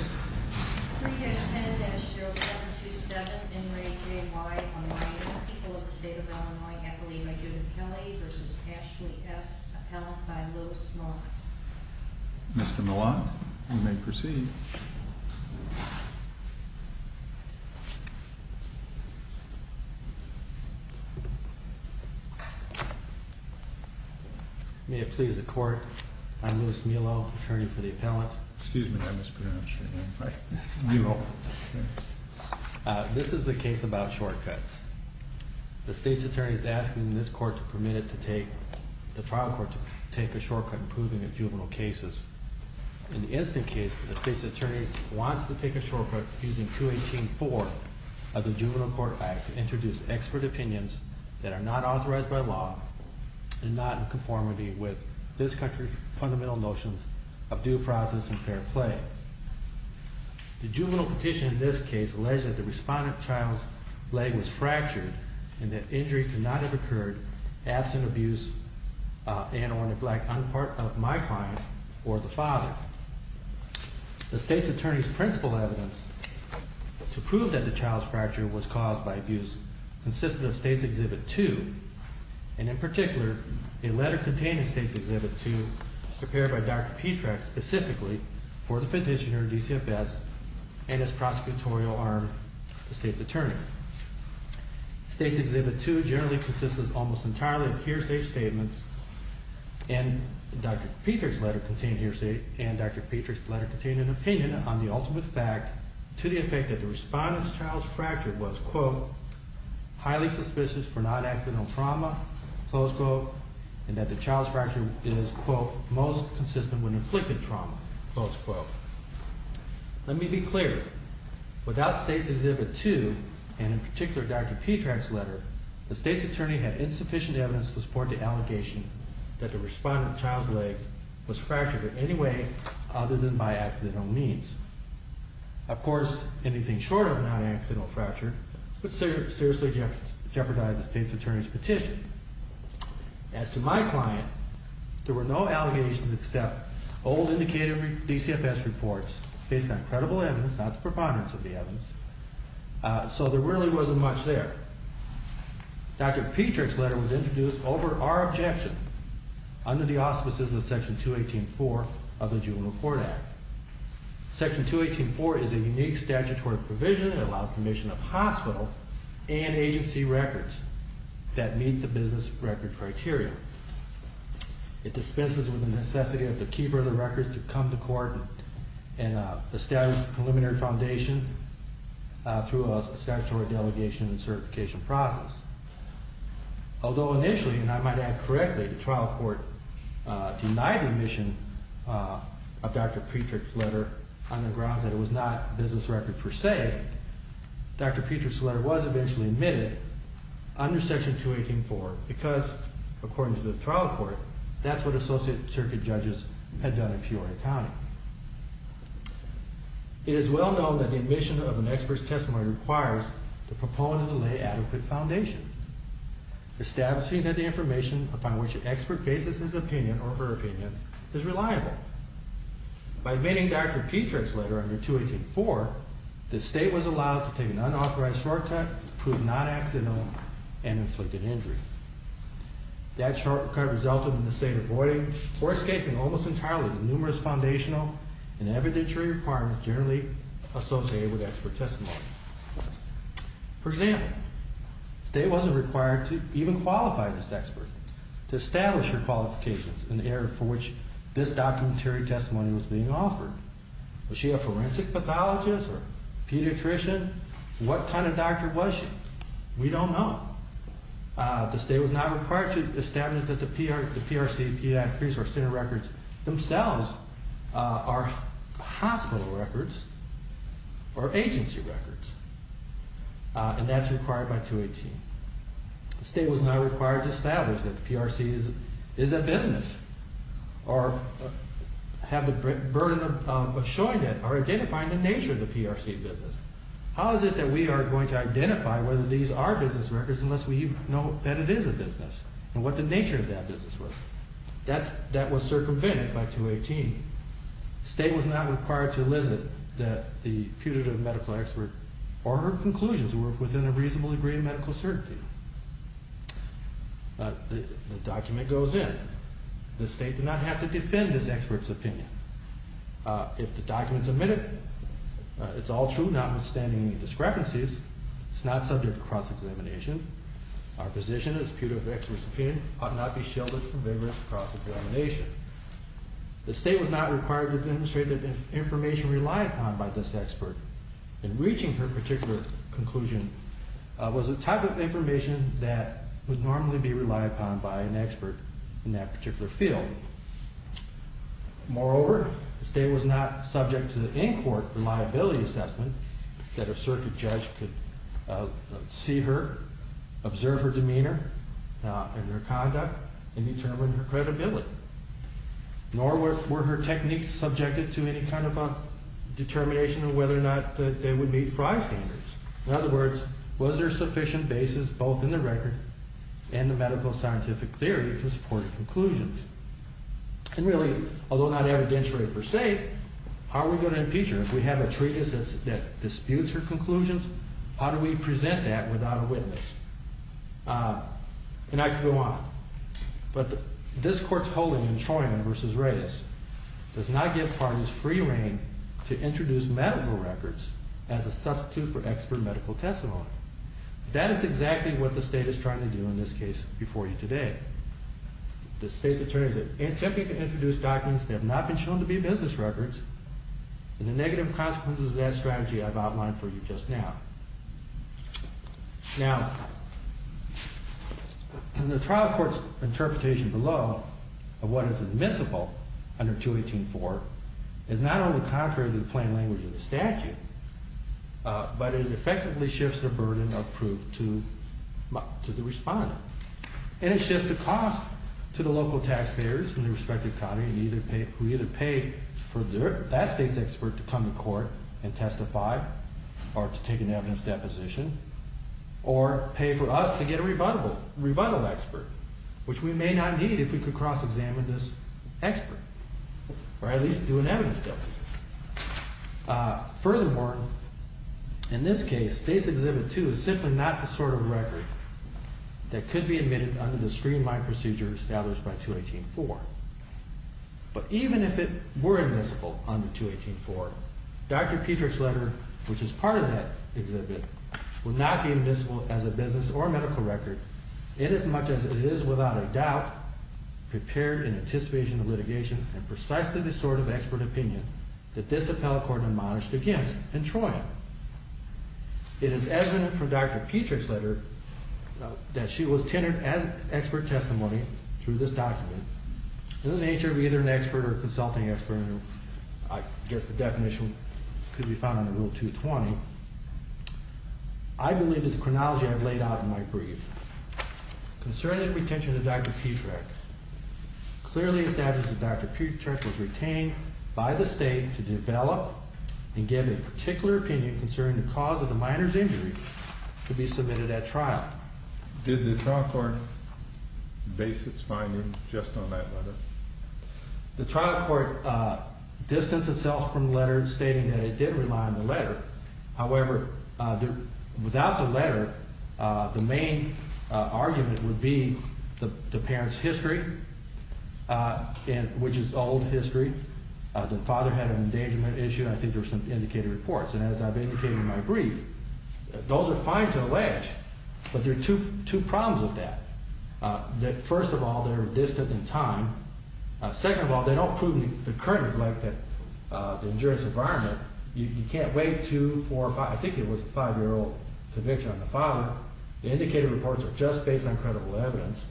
on the people of the state of Illinois, happily by Judith Kelley, versus Ashley S. Appellant by Louis Mollant. Mr. Mollant, you may proceed. May it please the court, I'm Louis Mollant, attorney for the appellant. Excuse me, I mispronounced your name. I'm Louis Mollant. This is a case about shortcuts. The state's attorney is asking this court to permit it to take, the trial court to take a shortcut in proving the juvenile cases. In the instant case, the state's attorney wants to take a shortcut using 218.4 of the Juvenile Court Act to introduce expert opinions that are not authorized by law and not in any fundamental notions of due process and fair play. The juvenile petition in this case alleged that the respondent child's leg was fractured and that injury could not have occurred absent abuse and or in the black, unpart of my crime or the father. The state's attorney's principle evidence to prove that the child's fracture was caused by abuse consisted of State's Exhibit 2, and in particular, a letter containing State's Exhibit 2 prepared by Dr. Petrax specifically for the petitioner, DCFS, and his prosecutorial arm, the state's attorney. State's Exhibit 2 generally consists of almost entirely of hearsay statements, and Dr. Petrax's letter contained hearsay, and Dr. Petrax's letter contained an opinion on the ultimate fact to the effect that the respondent's child's fracture was, quote, highly suspicious for non-accidental trauma, close quote, and that the child's fracture is, quote, most consistent when inflicted trauma, close quote. Let me be clear. Without State's Exhibit 2, and in particular, Dr. Petrax's letter, the state's attorney had insufficient evidence to support the allegation that the respondent's child's leg was fractured in any way other than by accidental means. Of course, anything short of non-accidental fracture would seriously jeopardize the state's attorney's petition. As to my client, there were no allegations except old, indicated DCFS reports based on credible evidence, not the preponderance of the evidence, so there really wasn't much there. Dr. Petrax's letter was introduced over our objection under the auspices of Section 218.4 of the Juvenile Court Act. Section 218.4 is a unique statutory provision that allows permission of hospital and agency records that meet the business record criteria. It dispenses with the necessity of the keeper of the records to come to court and establish a preliminary foundation through a statutory delegation and certification process. Although initially, and I might add correctly, the trial court denied the admission of Dr. Petrax's letter on the grounds that it was not a business record per se, Dr. Petrax's letter was eventually admitted under Section 218.4 because, according to the trial court, that's what associate circuit judges had done in Peoria County. It is well known that the admission of an expert's testimony requires the proponent to lay adequate foundation, establishing that the information upon which an expert bases his opinion or her opinion is reliable. By admitting Dr. Petrax's letter under 218.4, the state was allowed to take an unauthorized shortcut to prove non-accidental and inflicted injury. That shortcut resulted in the state avoiding or escaping almost entirely the numerous foundational and evidentiary requirements generally associated with expert testimony. For example, the state wasn't required to even qualify this expert to establish her qualifications in the area for which this documentary testimony was being offered. Was she a forensic pathologist or pediatrician? What kind of doctor was she? We don't know. The state was not required to establish that the PRC pediatrics or center records themselves are hospital records or agency records, and that's required by 218. The state was not required to establish that the PRC is a business or have the burden of showing that or identifying the nature of the PRC business. How is it that we are going to identify whether these are business records unless we know that it is a business and what the nature of that business was? That was circumvented by 218. The state was not required to elicit that the putative medical expert or her conclusions were within a reasonable degree of medical certainty. The document goes in. The state did not have to defend this expert's opinion. If the document's admitted, it's all true notwithstanding any discrepancies, it's not subject to cross-examination. Our position as putative experts of opinion ought not be shielded from vigorous cross-examination. The state was not required to demonstrate that the information relied upon by this expert in reaching her particular conclusion was a type of information that would normally be relied upon by an expert in that particular field. Moreover, the state was not subject to the in-court reliability assessment that a circuit judge could see her, observe her demeanor and her conduct, and determine her credibility, nor were her techniques subjected to any kind of a determination of whether or not they would meet Frey's standards. In other words, was there sufficient basis both in the record and the medical scientific theory to support her conclusions? And really, although not evidentiary per se, how are we going to impeach her? If we have a treatise that disputes her conclusions, how do we present that without a witness? And I could go on. But this Court's holding in Troyman v. Reyes does not give parties free reign to introduce medical records as a substitute for expert medical testimony. That is exactly what the state is trying to do in this case before you today. The state's attorneys have attempted to introduce documents that have not been shown to be business records and the negative consequences of that strategy I've outlined for you just now. Now, the trial court's interpretation below of what is admissible under 218-4 is not only contrary to the plain language of the statute, but it effectively shifts the burden of proof to the respondent. And it shifts the cost to the local taxpayers in their respective county who either pay for that state's expert to come to court and testify or to take an evidence deposition or pay for us to get a rebuttal expert, which we may not need if we could cross-examine this expert or at least do an evidence deposition. Furthermore, in this case, States Exhibit 2 is simply not the sort of record that could be admitted under the streamlined procedure established by 218-4. But even if it were admissible under 218-4, Dr. Petryk's letter, which is part of that exhibit, would not be admissible as a business or medical record inasmuch as it is without a doubt prepared in anticipation of litigation and precisely the sort of expert opinion that this appellate court admonished against in Troy. It is evident from Dr. Petryk's letter that she was tenured as expert testimony through this document. In the nature of either an expert or a consulting expert, I guess the definition could be found in Rule 220, I believe that the chronology I've laid out in my brief concerning the retention of Dr. Petryk clearly establishes that Dr. Petryk was retained by the state to develop and give a particular opinion concerning the cause of the minor's injury to be submitted at trial. Did the trial court base its findings just on that letter? The trial court distanced itself from the letter stating that it did rely on the letter. However, without the letter, the main argument would be the parent's history, which is old history. The father had an endangerment issue. I think there were some indicated reports. And as I've indicated in my brief, those are fine to allege, but there are two problems with that. First of all, they're distant in time. Second of all, they don't prove the current neglect of the injurious environment. You can't wait two, four, five, I think it was a five-year-old conviction on the father. The indicated reports are just based on credible evidence.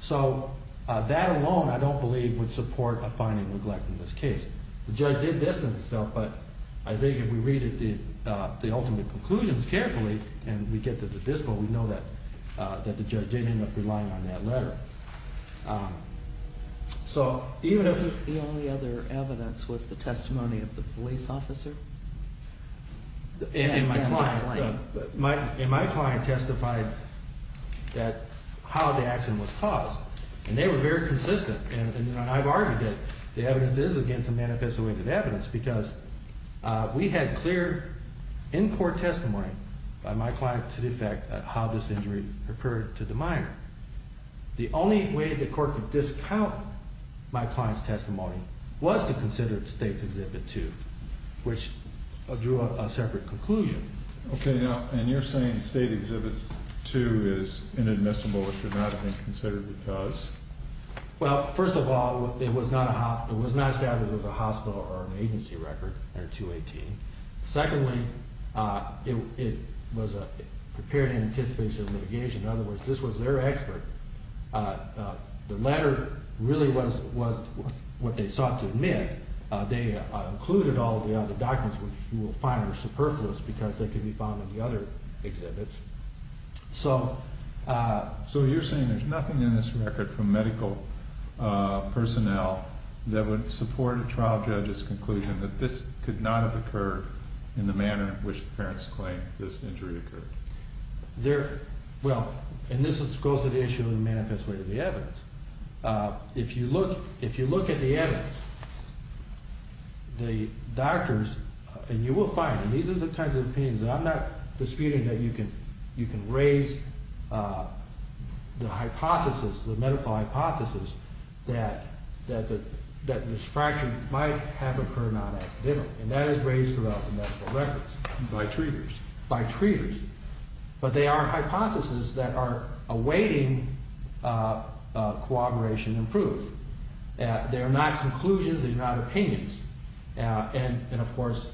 So that alone, I don't believe, would support a finding neglect in this case. The judge did distance itself, but I think if we read the ultimate conclusions carefully and we get to the dispo, we know that the judge did end up relying on that letter. Was the only other evidence the testimony of the police officer? And my client testified how the accident was caused. And they were very consistent, and I've argued that the evidence is against the manifest awaited evidence, because we had clear in-court testimony by my client to the effect how this injury occurred to the minor. The only way the court could discount my client's testimony was to consider the state's Exhibit 2, which drew up a separate conclusion. Okay, now, and you're saying State Exhibit 2 is inadmissible or should not have been considered because? Well, first of all, it was not established as a hospital or an agency record, Exhibit 218. Secondly, it was prepared in anticipation of litigation. In other words, this was their expert. The letter really was what they sought to admit. They included all of the other documents, which you will find are superfluous because they can be found in the other exhibits. So you're saying there's nothing in this record from medical personnel that would support a trial judge's conclusion that this could not have occurred in the manner in which the parents claimed this injury occurred? Well, and this goes to the issue of the manifest awaited evidence. If you look at the evidence, the doctors, and you will find, and these are the kinds of opinions, and I'm not disputing that you can raise the hypothesis, the medical hypothesis, that this fracture might have occurred on accident. And that is raised throughout the medical records. By treaters? By treaters. But they are hypotheses that are awaiting corroboration and proof. They are not conclusions. They are not opinions. And, of course,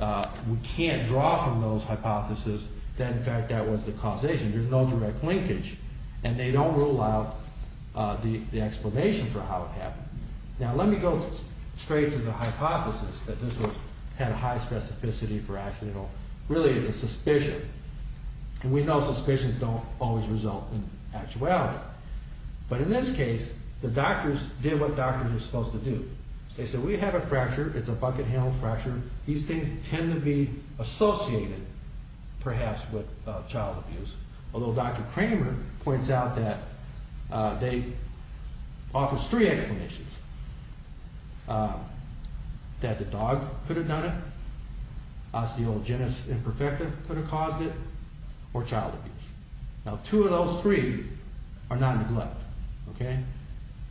we can't draw from those hypotheses that, in fact, that was the causation. There's no direct linkage. And they don't rule out the explanation for how it happened. Now, let me go straight to the hypothesis that this had a high specificity for accidental. Really, it's a suspicion. And we know suspicions don't always result in actuality. But in this case, the doctors did what doctors are supposed to do. They said, we have a fracture. It's a bucket-handled fracture. These things tend to be associated, perhaps, with child abuse. Although Dr. Kramer points out that they offer three explanations, that the dog could have done it, osteogenesis imperfecta could have caused it, or child abuse. Now, two of those three are not a neglect. Okay?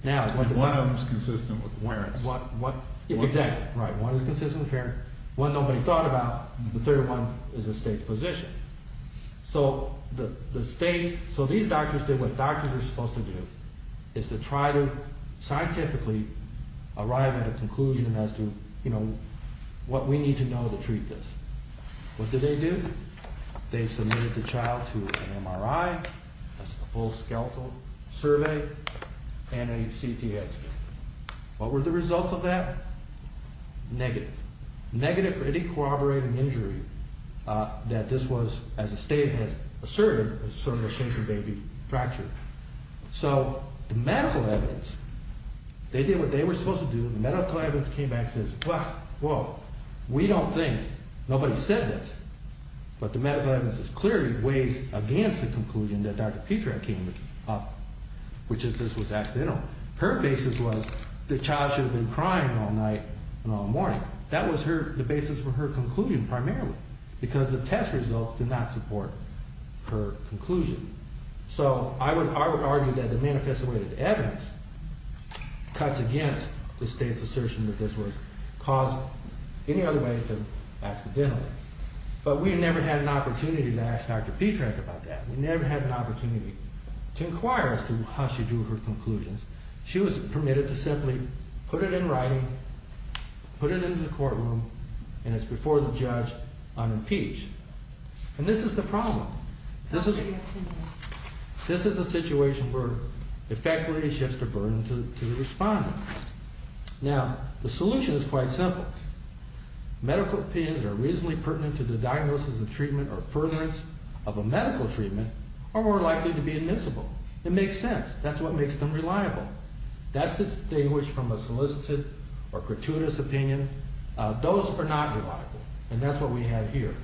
And one of them is consistent with warrants. Exactly. Right. One is consistent with warrants. One nobody thought about. The third one is a state position. So these doctors did what doctors are supposed to do, is to try to scientifically arrive at a conclusion as to what we need to know to treat this. What did they do? They submitted the child to an MRI. That's a full skeletal survey and a CTS scan. What were the results of that? Negative. Negative for any corroborating injury that this was, as the state has asserted, sort of a shaken baby fracture. So the medical evidence, they did what they were supposed to do, and the medical evidence came back and says, well, we don't think, nobody said this. But the medical evidence clearly weighs against the conclusion that Dr. Petrak came up with, which is this was accidental. Her basis was the child should have been crying all night and all morning. That was the basis for her conclusion primarily, because the test results did not support her conclusion. So I would argue that the manifested evidence cuts against the state's assertion that this was caused any other way than accidentally. But we never had an opportunity to ask Dr. Petrak about that. We never had an opportunity to inquire as to how she drew her conclusions. She was permitted to simply put it in writing, put it into the courtroom, and it's before the judge on impeach. And this is the problem. This is a situation where, effectively, it shifts the burden to the respondent. Now, the solution is quite simple. Medical opinions that are reasonably pertinent to the diagnosis of treatment or furtherance of a medical treatment are more likely to be admissible. It makes sense. That's what makes them reliable. That's distinguished from a solicited or gratuitous opinion. Those are not reliable, and that's what we have here.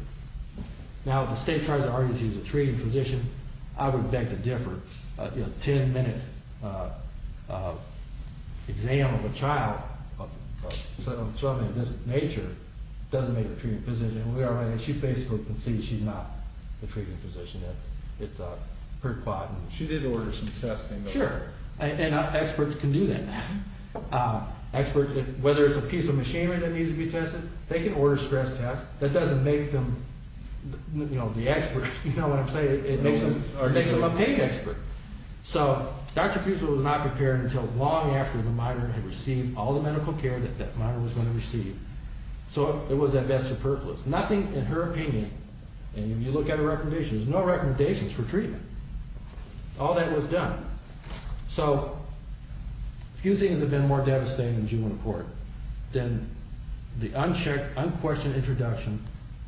Now, if the state tries to argue she's a treating physician, I would beg to differ. A 10-minute exam of a child of something of this nature doesn't make her a treating physician. She basically concedes she's not a treating physician. It's pretty quiet. She did order some testing. Sure, and experts can do that. Whether it's a piece of machinery that needs to be tested, they can order stress tests. That doesn't make them the experts, you know what I'm saying? It makes them a pain expert. So Dr. Pusewitz was not prepared until long after the minor had received all the medical care that that minor was going to receive. So it was at best superfluous. Nothing in her opinion, and you look at her recommendations, there's no recommendations for treatment. All that was done. So a few things have been more devastating in June report than the unchecked, unquestioned introduction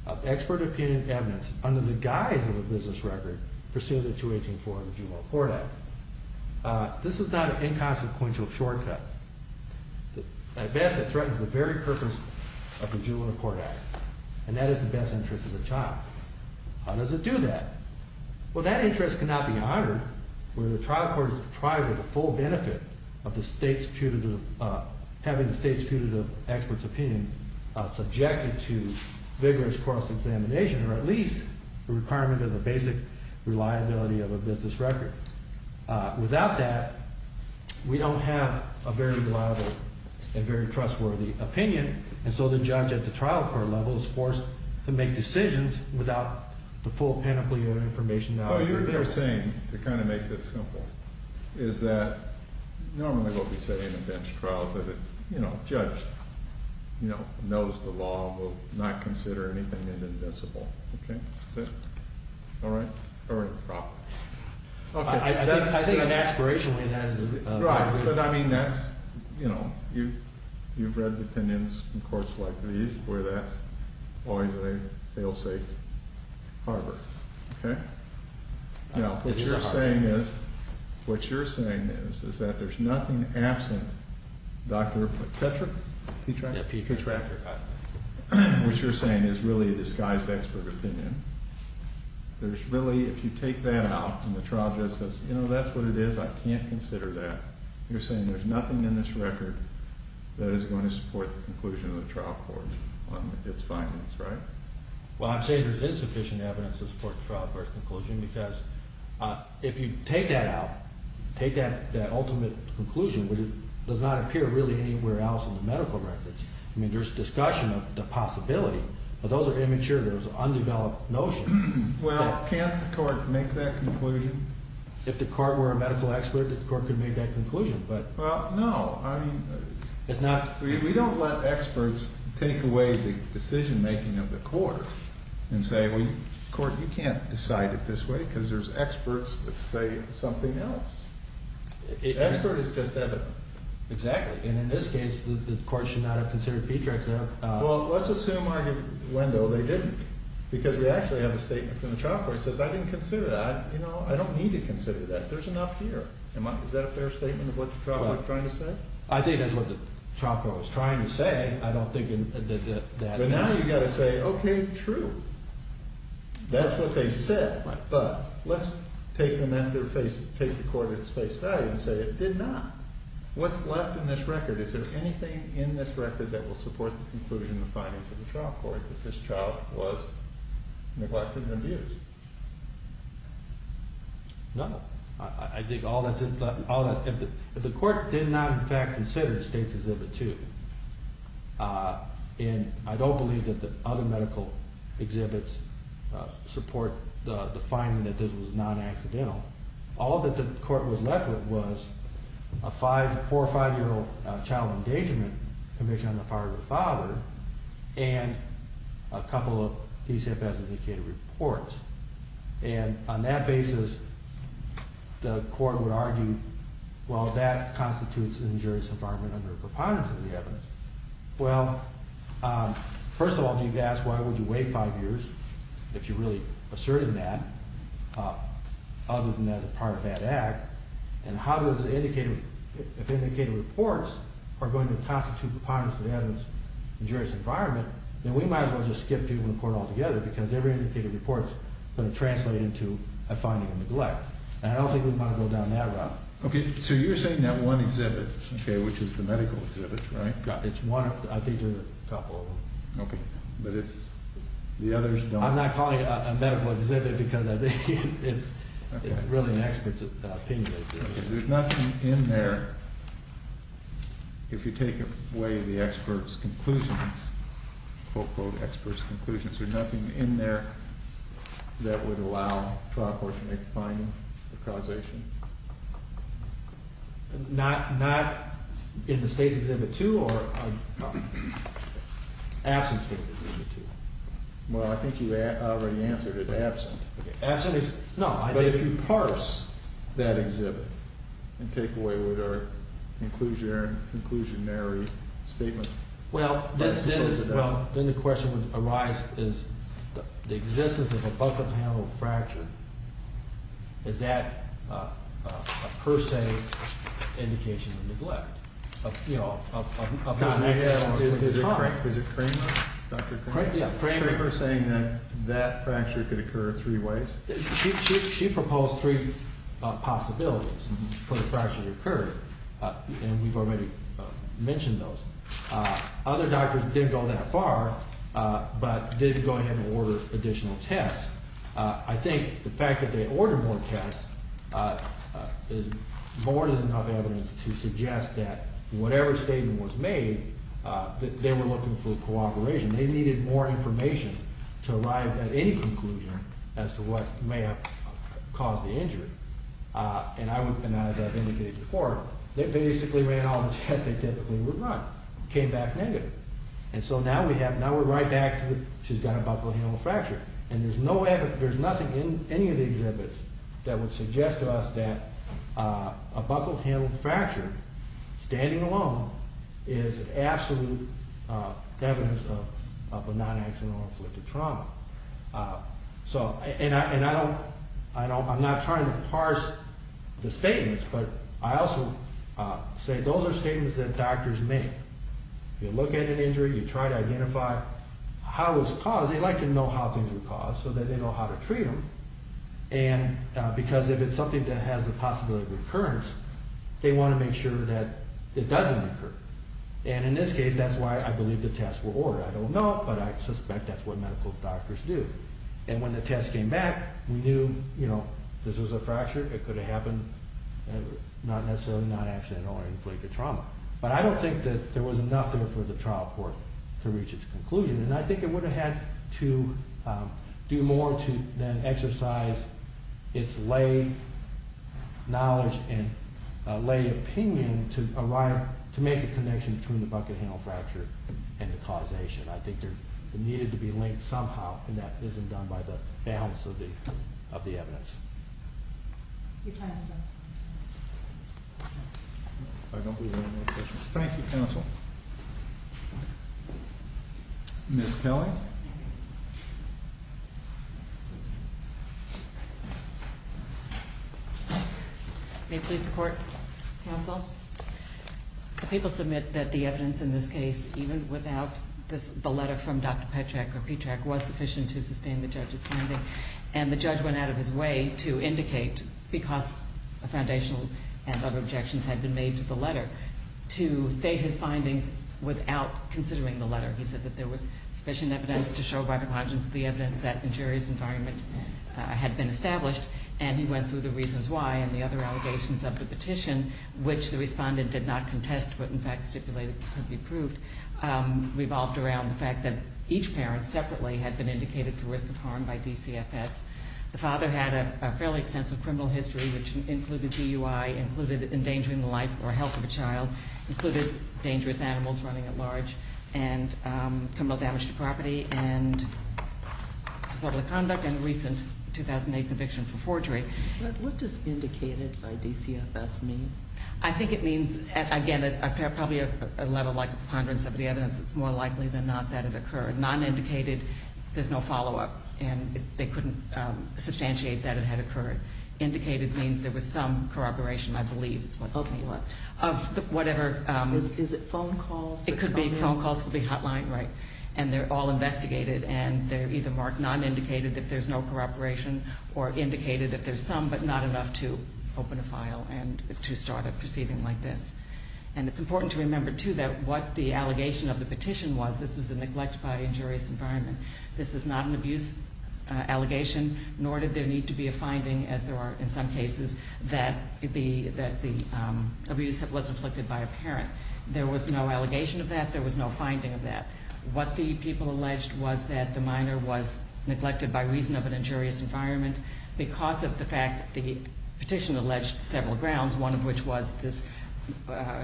of expert opinion evidence under the guise of a business record pursuant to 218.4 of the Juvenile Court Act. This is not an inconsequential shortcut. At best, it threatens the very purpose of the Juvenile Court Act, and that is the best interest of the child. How does it do that? Well, that interest cannot be honored when the trial court is deprived of the full benefit of having the state's putative expert's opinion subjected to vigorous cross-examination or at least the requirement of the basic reliability of a business record. Without that, we don't have a very reliable and very trustworthy opinion, and so the judge at the trial court level is forced to make decisions without the full panoply of information now available. So you're saying, to kind of make this simple, is that normally what we say in a bench trial is that a judge knows the law will not consider anything inadmissible, okay? Is that all right? Or improper? Okay, that's... I think in an aspirational way, that is... Right, but I mean, that's, you know, you've read defendants in courts like these where that's always a fail-safe harbor, okay? Now, what you're saying is, what you're saying is, is that there's nothing absent, Dr. Petrak... Petrak? Yeah, Petrak. Which you're saying is really a disguised expert opinion. There's really, if you take that out, and the trial judge says, you know, that's what it is, I can't consider that. You're saying there's nothing in this record that is going to support the conclusion of the trial court on its findings, right? Well, I'm saying there's insufficient evidence to support the trial court's conclusion because if you take that out, take that ultimate conclusion, it does not appear really anywhere else in the medical records. I mean, there's discussion of the possibility, but those are immature, those are undeveloped notions. Well, can't the court make that conclusion? If the court were a medical expert, the court could make that conclusion, but... Well, no, I mean... It's not... We don't let experts take away the decision-making of the court and say, well, the court, you can't decide it this way because there's experts that say something else. Expert is just evidence. Exactly, and in this case, the court should not have considered Petraeus. Well, let's assume arguably they didn't because we actually have a statement from the trial court that says, I didn't consider that, you know, I don't need to consider that, there's enough here. Is that a fair statement of what the trial court's trying to say? I think that's what the trial court was trying to say. I don't think that... But now you've got to say, okay, true, that's what they said, but let's take them at their face, take the court at its face value and say it did not. What's left in this record? Is there anything in this record that will support the conclusion and the findings of the trial court that this child was neglected and abused? No. I think all that's... If the court did not, in fact, consider the State's Exhibit 2, and I don't believe that the other medical exhibits support the finding that this was not accidental, all that the court was left with was a four- or five-year-old child engagement commission on the part of the father and a couple of PCFS-indicated reports. And on that basis, the court would argue, well, that constitutes an injurious environment under preponderance of the evidence. Well, first of all, you've asked why would you wait five years, if you really asserted that, other than as a part of that act, and how does the indicated... If indicated reports are going to constitute preponderance of the evidence, injurious environment, then we might as well just skip to the report altogether, because every indicated report is going to translate into a finding of neglect. And I don't think we want to go down that route. Okay, so you're saying that one exhibit, okay, which is the medical exhibit, right? Yeah, it's one... I think there's a couple of them. Okay, but it's... The others don't... I'm not calling it a medical exhibit because I think it's... Okay. It's really an expert's opinion. There's nothing in there, if you take away the expert's conclusions, quote, quote, expert's conclusions, there's nothing in there that would allow trial court to make a finding of causation? Not... Not in the State's Exhibit 2 or... Absent State's Exhibit 2. Well, I think you already answered it, absent. Okay, absent is... No, I think... But if you parse that exhibit and take away what are inclusionary statements... Well, then the question would arise, is the existence of a bucket panel fracture, is that a per se indication of neglect? Of, you know, of... Is it Kramer? Dr. Kramer? Yeah, Kramer. Kramer saying that that fracture could occur in three ways? She proposed three possibilities for the fracture to occur, and we've already mentioned those. Other doctors didn't go that far, but did go ahead and order additional tests. I think the fact that they ordered more tests is more than enough evidence to suggest that whatever statement was made that they were looking for cooperation. They needed more information to arrive at any conclusion as to what may have caused the injury. And I would... And as I've indicated before, they basically ran all the tests they typically would run. Came back negative. And so now we have... Now we're right back to she's got a buckle-handled fracture. And there's no evidence... There's nothing in any of the exhibits that would suggest to us that a buckle-handled fracture standing alone is absolute evidence of a non-accidental or inflicted trauma. So... And I don't... I'm not trying to parse the statements, but I also say those are statements that doctors make. You look at an injury, you try to identify how it was caused. They like to know how things were caused so that they know how to treat them. And because if it's something that has the possibility of recurrence, they want to make sure that it doesn't occur. And in this case, that's why I believe the tests were ordered. I don't know, but I suspect that's what medical doctors do. And when the tests came back, we knew, you know, this was a fracture. It could have happened not necessarily non-accidental or inflicted trauma. But I don't think that there was enough there for the trial court to reach its conclusion. And I think it would have had to do more to then exercise its lay knowledge and lay opinion to arrive... to make a connection between the buckle-handled fracture and the causation. I think there needed to be linked somehow and that isn't done by the balance of the evidence. Your time is up. I don't believe there are any more questions. Thank you, counsel. Ms. Kelly? May I please report, counsel? The people submit that the evidence in this case even without the letter from Dr. Petrak was sufficient to sustain the judge's finding and the judge went out of his way to indicate because a foundational and other objections had been made to the letter to state his findings without considering the letter. He said that there was sufficient evidence to show by the conscience the evidence that injury's environment had been established and he went through the reasons why and the other allegations of the petition which the respondent did not contest but in fact stipulated could be proved revolved around the fact that each parent separately had been indicated for risk of harm by DCFS. The father had a fairly extensive criminal history which included DUI, included endangering the life or health of a child, included dangerous animals running at large and criminal damage to property and disorderly conduct and a recent 2008 conviction for forgery. But what does indicated by DCFS mean? I think it means again, probably a level like ponderance of the evidence it's more likely than not that it occurred. Non-indicated, there's no follow-up and they couldn't substantiate that it had occurred. Indicated means there was some corroboration I believe of whatever Is it phone calls? It could be phone calls could be hotline, right, and they're all investigated and they're either marked non-indicated if there's no corroboration or indicated if there's some but not enough to open a file and to start a proceeding like this. And it's important to remember too that what the allegation of the petition was this was a neglect by injurious environment. This is not an abuse allegation nor did there need to be a finding as there are in some cases that the abuse was inflicted by a parent. There was no allegation of that there was no finding of that. What the people alleged was that the minor was neglected by reason of an injurious environment because of the fact that the petition alleged several grounds one of which was this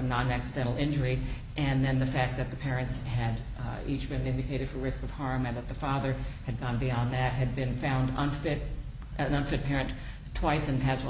non-accidental injury and then the fact that the parents had each been indicated for risk of harm and that the father had gone beyond that, had been found an unfit parent twice in the health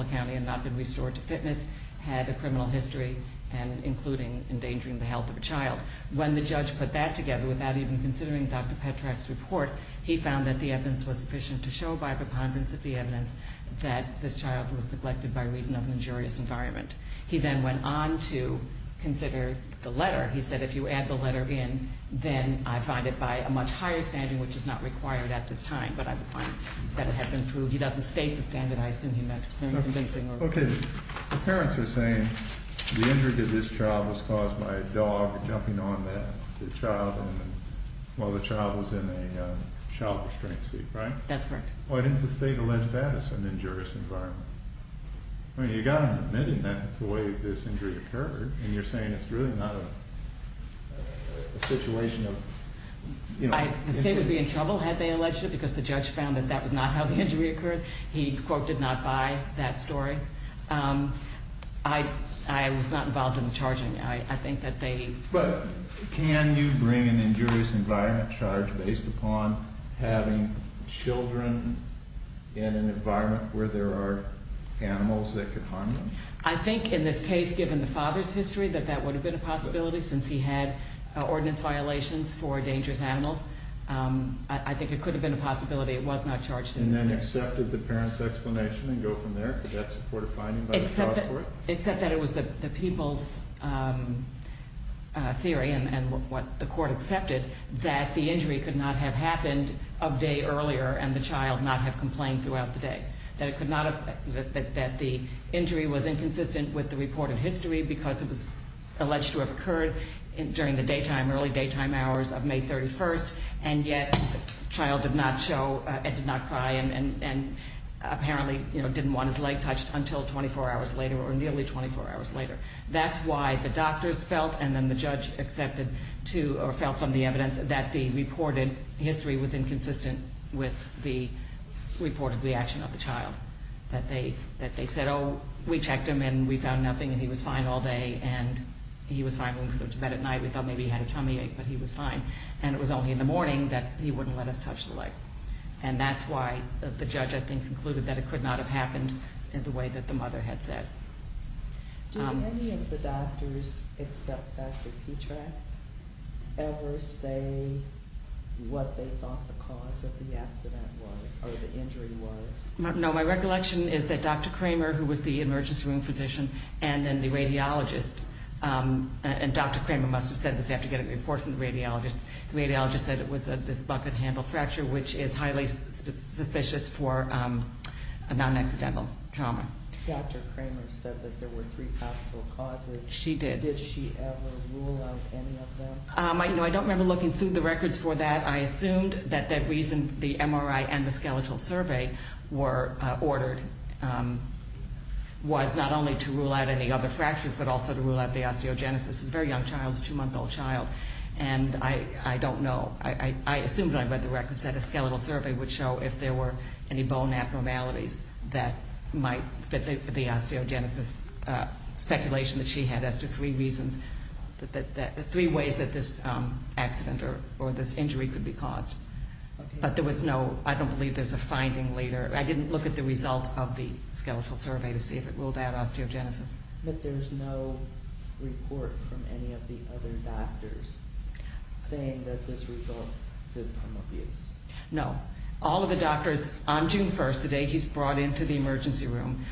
of a child. When the judge put that together without even considering Dr. Petrak's report, he found that the evidence was sufficient to show by preponderance of the evidence that this child was neglected by reason of an injurious environment. He then went on to consider the letter. He said if you add the letter in, then I find it by a much higher standard which is not required at this time. But I would find that it had been proved. He doesn't state the standard. I assume he meant convincing. Okay. The parents were saying the injury to this child was caused by a dog jumping on the child while the child was in a child restraint seat, right? That's correct. Why didn't the state allege that it's an injurious environment? I mean, you've got to admit that that's the way this injury occurred and you're saying it's really not a situation of you know injury. The state was not involved in the charging. I think that they But can you bring an injurious environment charge based upon having children in an environment where there are animals that could harm them? I think in this case, given the father's history, that that would have been a possibility since he had ordinance violations for dangerous animals. I think it could have been a possibility it was not charged. And then accepted the parent's explanation and go from there? Except that it was the people's theory and what the court accepted that the injury could not have happened a day earlier and the child not have complained throughout the day. That the injury was inconsistent with the reported history because it was alleged to have occurred during the early daytime hours of May 31st and yet the child did not cry and apparently didn't want his leg touched until 24 hours later or nearly 24 hours later. That's why the doctors felt and the judge felt from the evidence that the reported history was inconsistent with the reported reaction of the child. That they said oh we checked him and we found nothing and he was fine all day and he was fine when we went to bed at night. We thought maybe he had a tummy ache but he was fine and it was only in the morning that he wouldn't let us touch the leg. And that's why the judge I think concluded that it could not have happened the way that the mother had said. Did any of the doctors except Dr. Petrak ever say what they thought the cause of the accident was or the injury was? No my recollection is that Dr. Kramer who was the emergency room physician and then the radiologist and Dr. Kramer must have said this after getting reports from the radiologist. The radiologist said it was this bucket handle fracture which is highly suspicious for a non accidental trauma. Dr. Kramer said that there was no that the bone abnormalities were ordered was not only to rule out any other fractures but also to rule out the osteogenesis. A very young child, a two month old child and I don't know. I assumed when I read the records that a skeletal survey would show if there were any bone abnormalities that the osteogenesis speculation that she had as to three reasons three ways that this accident or this injury could be caused. I don't believe there's a finding later. I didn't look at the result of the skeletal survey to see if it ruled out osteogenesis. But there's no report from any of the other doctors saying that this resulted from abuse? No. All of the doctors on June 1st, the day he's brought into the emergency room,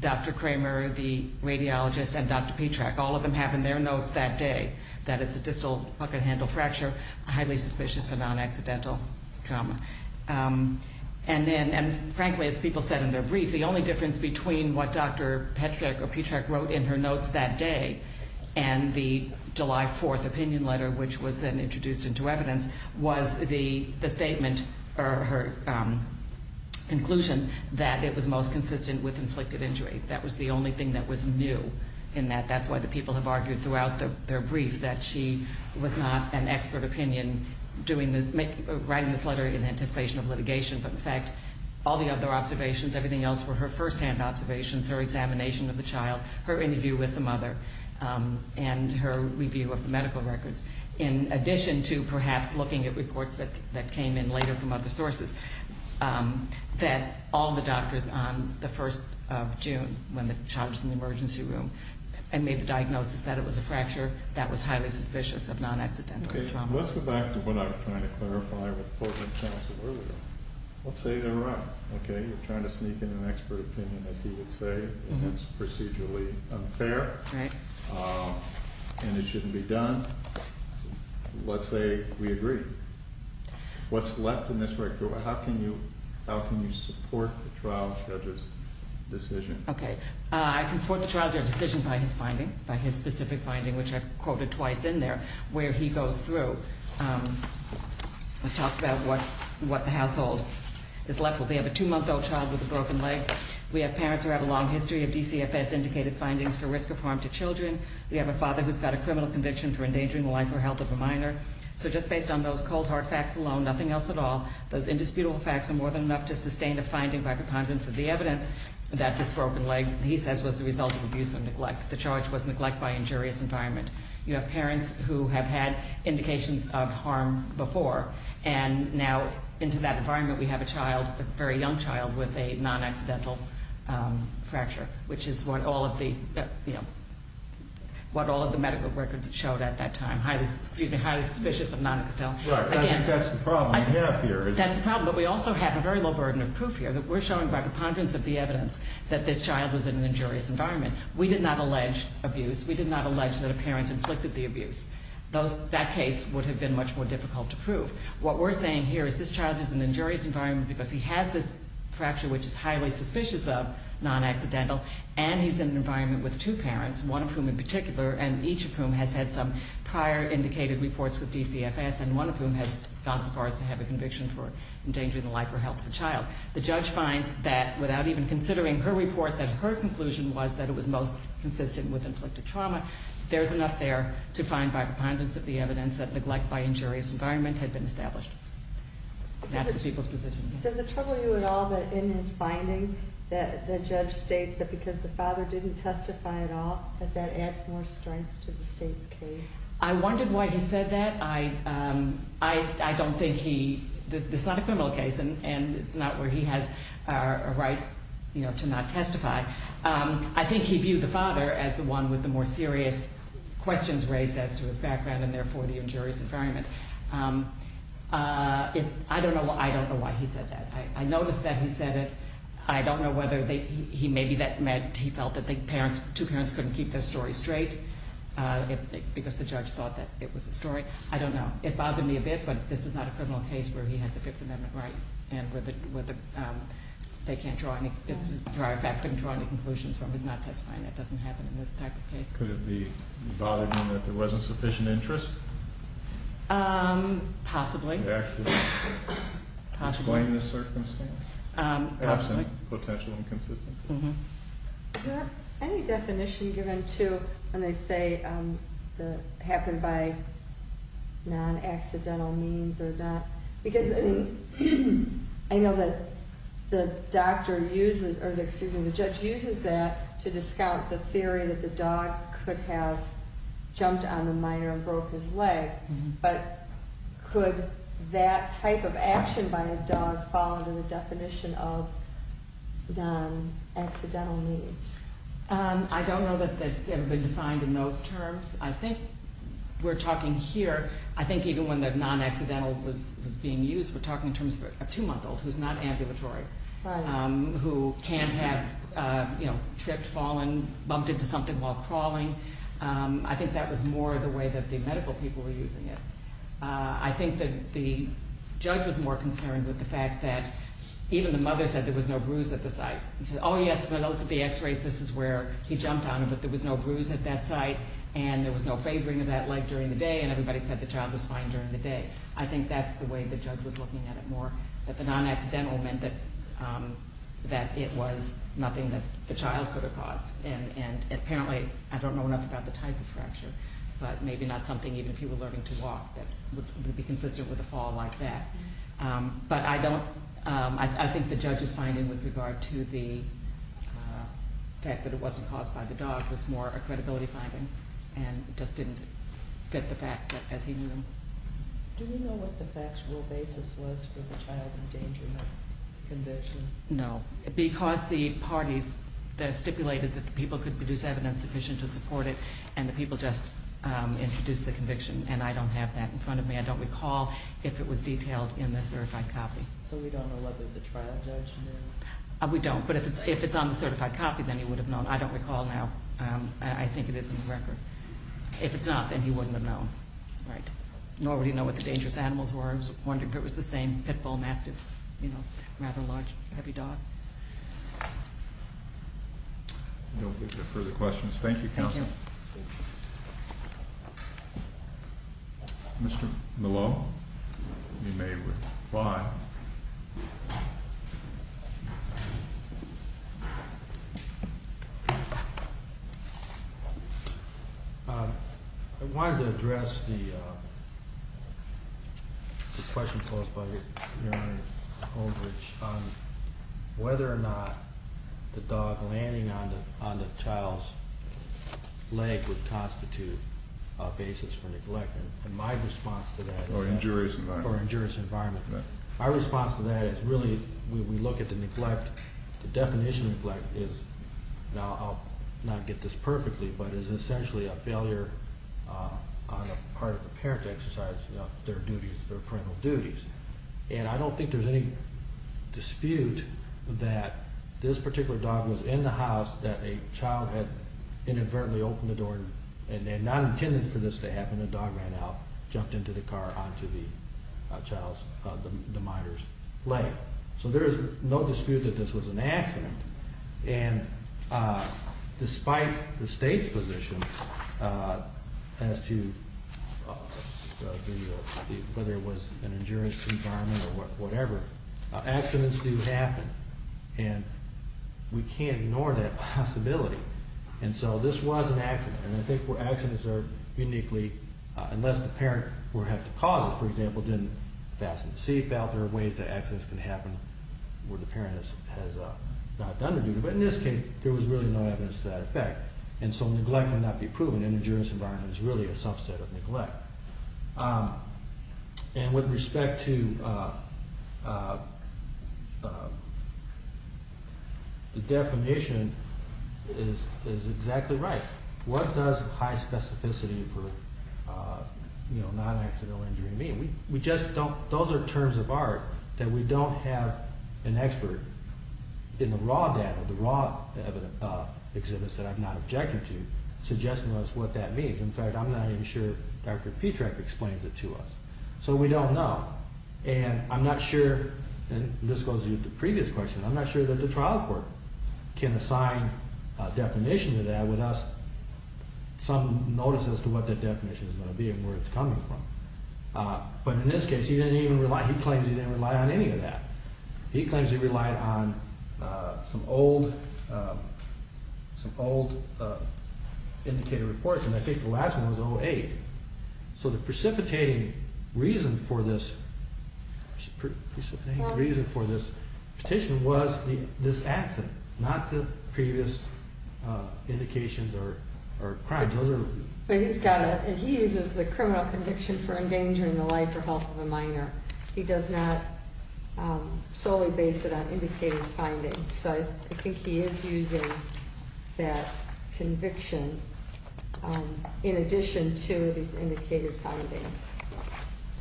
Dr. Kramer, the radiologist and Dr. Patrack, all of them have in their notes that day that it's a distal bucket handle fracture, a highly suspicious but non- accidental trauma. And frankly as people said in their brief, the only difference between what Dr. Patrack wrote in her notes that day and the July 4th opinion letter which was then introduced into evidence was the statement or her opinion writing this letter in anticipation of litigation but in fact all the other observations, everything else were her first hand observations, her examination of the child, her interview with the mother and her review of the medical records in addition to perhaps looking at reports that came in later from other sources that all of the evidence to the trial judges. So let's go back to what I was trying to clarify with the program counsel earlier. Let's say they're right. Okay. You're trying to sneak in an expert opinion as he would say and it's procedurally unfair and it shouldn't be done. Let's say we agree. What's left in this record? How can you support the trial judge's decision? Okay. I can support the trial judge's decision by his finding, by his specific finding, which I quoted twice in there, where he goes through and talks about what the household is left with. We have a two-month-old child with a broken leg. We have parents who have a long history of DCFS indicated findings for risk of harm to children. We have a father who's got a criminal conviction for endangering the life or health of a minor. So just based on that, we have a child, a very young child, with a non-accidental fracture, which is what all of the medical records showed at that time. Highly suspicious of non-accidental. Right. I think that's the problem we have here. That's the problem. But we also have a is in an injurious environment because he has this fracture which is highly suspicious of non-accidental and he's in an environment with two parents, one of whom in particular and each of whom has had some prior indicated reports with this condition. Does it trouble you at all that in his finding that the judge states that because the father didn't testify at all that that adds more strength to the state's case? I wondered why he said that. I don't think he this is not a criminal case and it's not a case where he has a right to not testify. I think he viewed the father as the one with the more serious questions raised as to his background and therefore the injurious environment. I don't know why he said that. I noticed that he said it. I don't know whether he maybe that meant that he felt that two parents couldn't keep their story straight because the judge thought that it was a story. I don't know. It bothered me a bit but this is not a criminal case where he has a Fifth Amendment right and they can't draw any conclusions from his not testifying. It doesn't happen in this type of case. Could it be bothering that there wasn't sufficient interest? Possibly. Explain the circumstance. Potential inconsistency. Do you have any definition given to when they say it happened by non-accidental means or not? I know that the judge uses that to say that the dog could have jumped on the minor and broke his leg but could that type of action by a dog fall into the definition of non-accidental means? I don't know that it's ever been defined in those terms. I think we're talking here I think even when the non-accidental was being used we're talking in terms of a two month old who's not ambulatory who can't have tripped fallen bumped into something while crawling. I think that was more the way that the child was fine during the day. I think that's the way the judge was looking at it more. The non-accidental meant that it was nothing that the child could have caused. Apparently I don't know enough about the type of fracture but maybe not something even if he was learning to do. Do we know what the factual basis was for the child endangerment conviction? No. Because the parties stipulated that the people could produce evidence sufficient to support it and the people just introduced the conviction and I don't have that in front of me. I don't recall if it was detailed in the case. I don't know what the dangerous animals were. I was wondering if it was the same pit bull massive rather large heavy dog. No further questions. Thank you counsel. Thank you. Mr. Malone. You may reply. I wanted to address the question posed by your Honor on whether or not the dog landing on the child's leg would constitute a basis for neglect and my response to that is really we look at the neglect the definition of neglect is essentially a failure on the part of the parent to exercise their parental duties. I don't think there's any dispute that this particular dog was in the house that a child had inadvertently opened the door and not intended for this to happen. The dog ran out and jumped into the car onto the child's leg. There is no dispute that this was an accident and despite the state's position as to whether it was an injurious environment or whatever accidents do happen and we can't ignore that possibility and so this was an accident and I think accidents are uniquely unless the parent had to cause it for example didn't fasten the seatbelt there are ways that accidents can happen where the parent has not done their duty but in this case there was really no evidence to that effect and so neglect cannot be proven. An injurious environment is really a subset of neglect. And with respect to the definition of what an injury means we just don't those are terms of art that we don't have an expert in the raw data the raw exhibits that I'm not objecting to suggesting to us what that means in fact I'm not even sure Dr. But in this case he claims he didn't rely on any of that he claims he relied on some old indicator reports and I think the last one was 08 so the precipitating reason for this reason for this petition was this accident not the previous indications or crimes but he's got he uses the criminal conviction for endangering the life or health of a minor he does not solely base it on indicated findings so I think he is using that conviction in addition to these indicated findings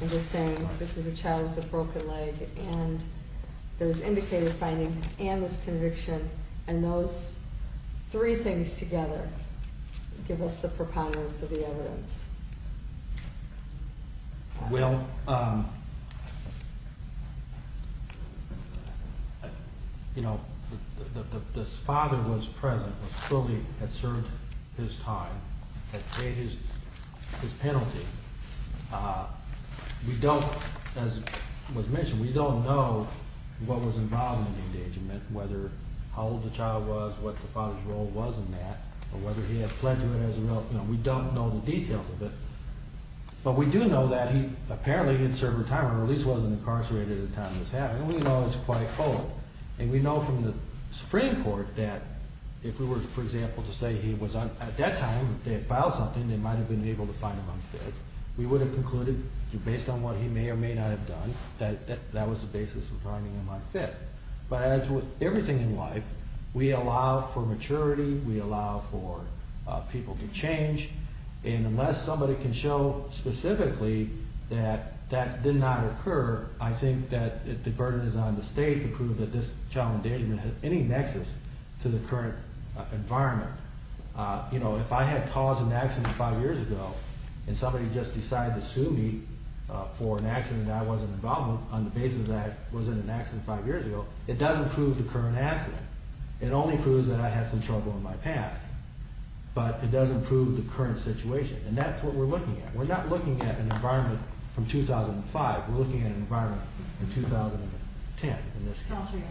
I'm just saying this is a child with a broken leg and those indicated findings and this conviction and those three things together give us the preponderance of the evidence well you know this father was present had served his time had paid his his penalty we don't as was mentioned we don't know what was involved in the engagement whether how old the child was what the father's status was in that or whether he had pledged to it we don't know the details of it but we do know that he apparently had served his time or at least wasn't incarcerated at the time of this happening we know it's quite cold and we know from the Supreme Court that if we were for example to say that he was at that time they had filed something they might have been able to find him unfit we would have concluded based on what he may or may not have done that that that was the basis for finding him unfit but as with everything in life we allow for maturity we allow for people to change and unless somebody can show specifically that that did not occur I think that the burden is on the state to prove that this child endangerment has any nexus to the current environment you know if I had caused an accident five years ago and somebody just decided to sue me for an accident that I wasn't involved with on the basis that I was in an accident five years ago it doesn't prove the current accident it only proves that I had some trouble in my past but it doesn't prove the current situation and that's what we're looking at we're not looking at an environment from 2005 we're looking at an environment from 2010 in this country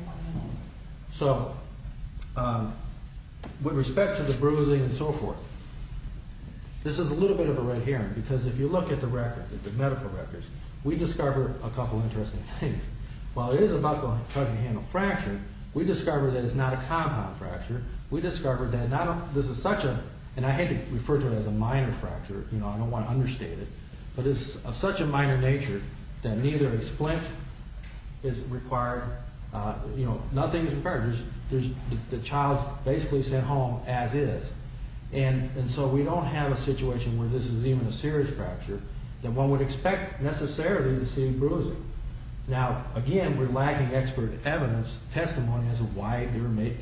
so with respect to the bruising and so forth this is a little bit of a red herring because if you look at the records the medical records we discover a couple interesting things while it is about going to handle fracture we discover that it's not a compound fracture we discover that this is such a and I hate to refer to it as a minor fracture I don't want to understate it but it's of such a minor nature that neither a splint is required nothing is required the child is basically sent home as is and so we don't have a situation where this is even a serious fracture that one would expect necessarily to see bruising now again we're lacking expert evidence testimony as to why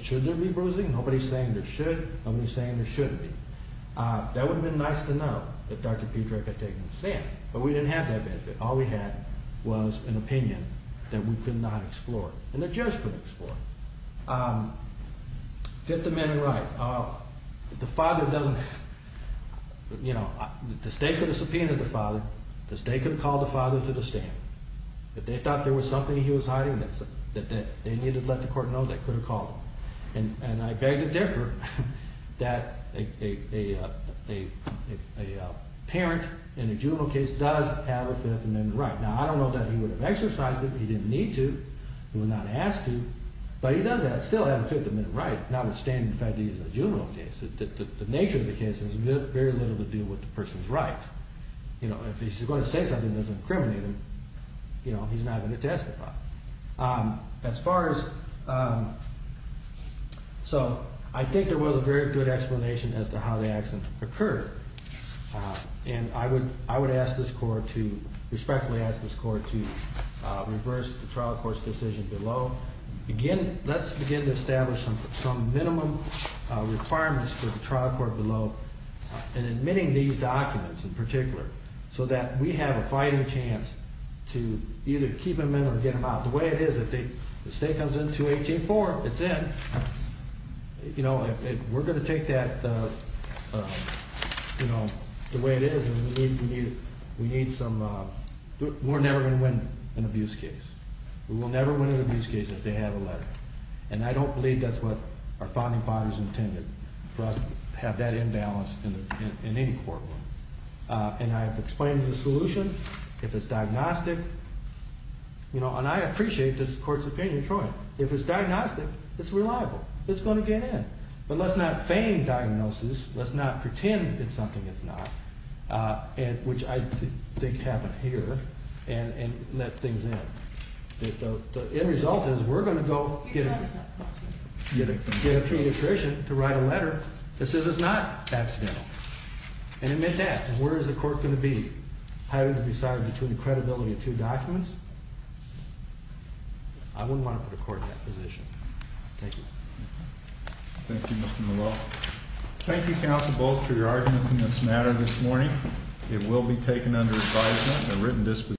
should there be bruising nobody is saying there should be that would have been nice to know that Dr. Piedrek had taken a stand but we didn't have that benefit all we could have was that if they could have subpoenaed the father that they could have called the father to the stand that they thought there was something he was hiding that they needed to let the court know they could have called him and I beg to differ that a parent in a juvenile case does have a right if he's going to say something that doesn't incriminate him he's not going to testify as far as so I think there was a very good explanation as to how the accident occurred and I would ask this court to reverse the trial court's decision below again let's begin to establish some minimum requirements for the trial court below in admitting these documents in particular so that we have a fighting chance to either keep them in or get them out the way it is if the state comes in 218-4 it's in we're going to and I don't believe that's what our founding fathers intended for us to have that in balance in any courtroom and I have explained the solution if it's diagnostic and I appreciate this court's opinion if it's diagnostic it's reliable it's going to get in but let's not fame diagnosis let's not pretend it's something it's not which I think happened here and let things in the end result is we're going to go get a pediatrician to write a letter that says it's not accidental and amid that where is the court going to be deciding between the counsel both for your arguments in this matter this morning it will be taken under advisement a written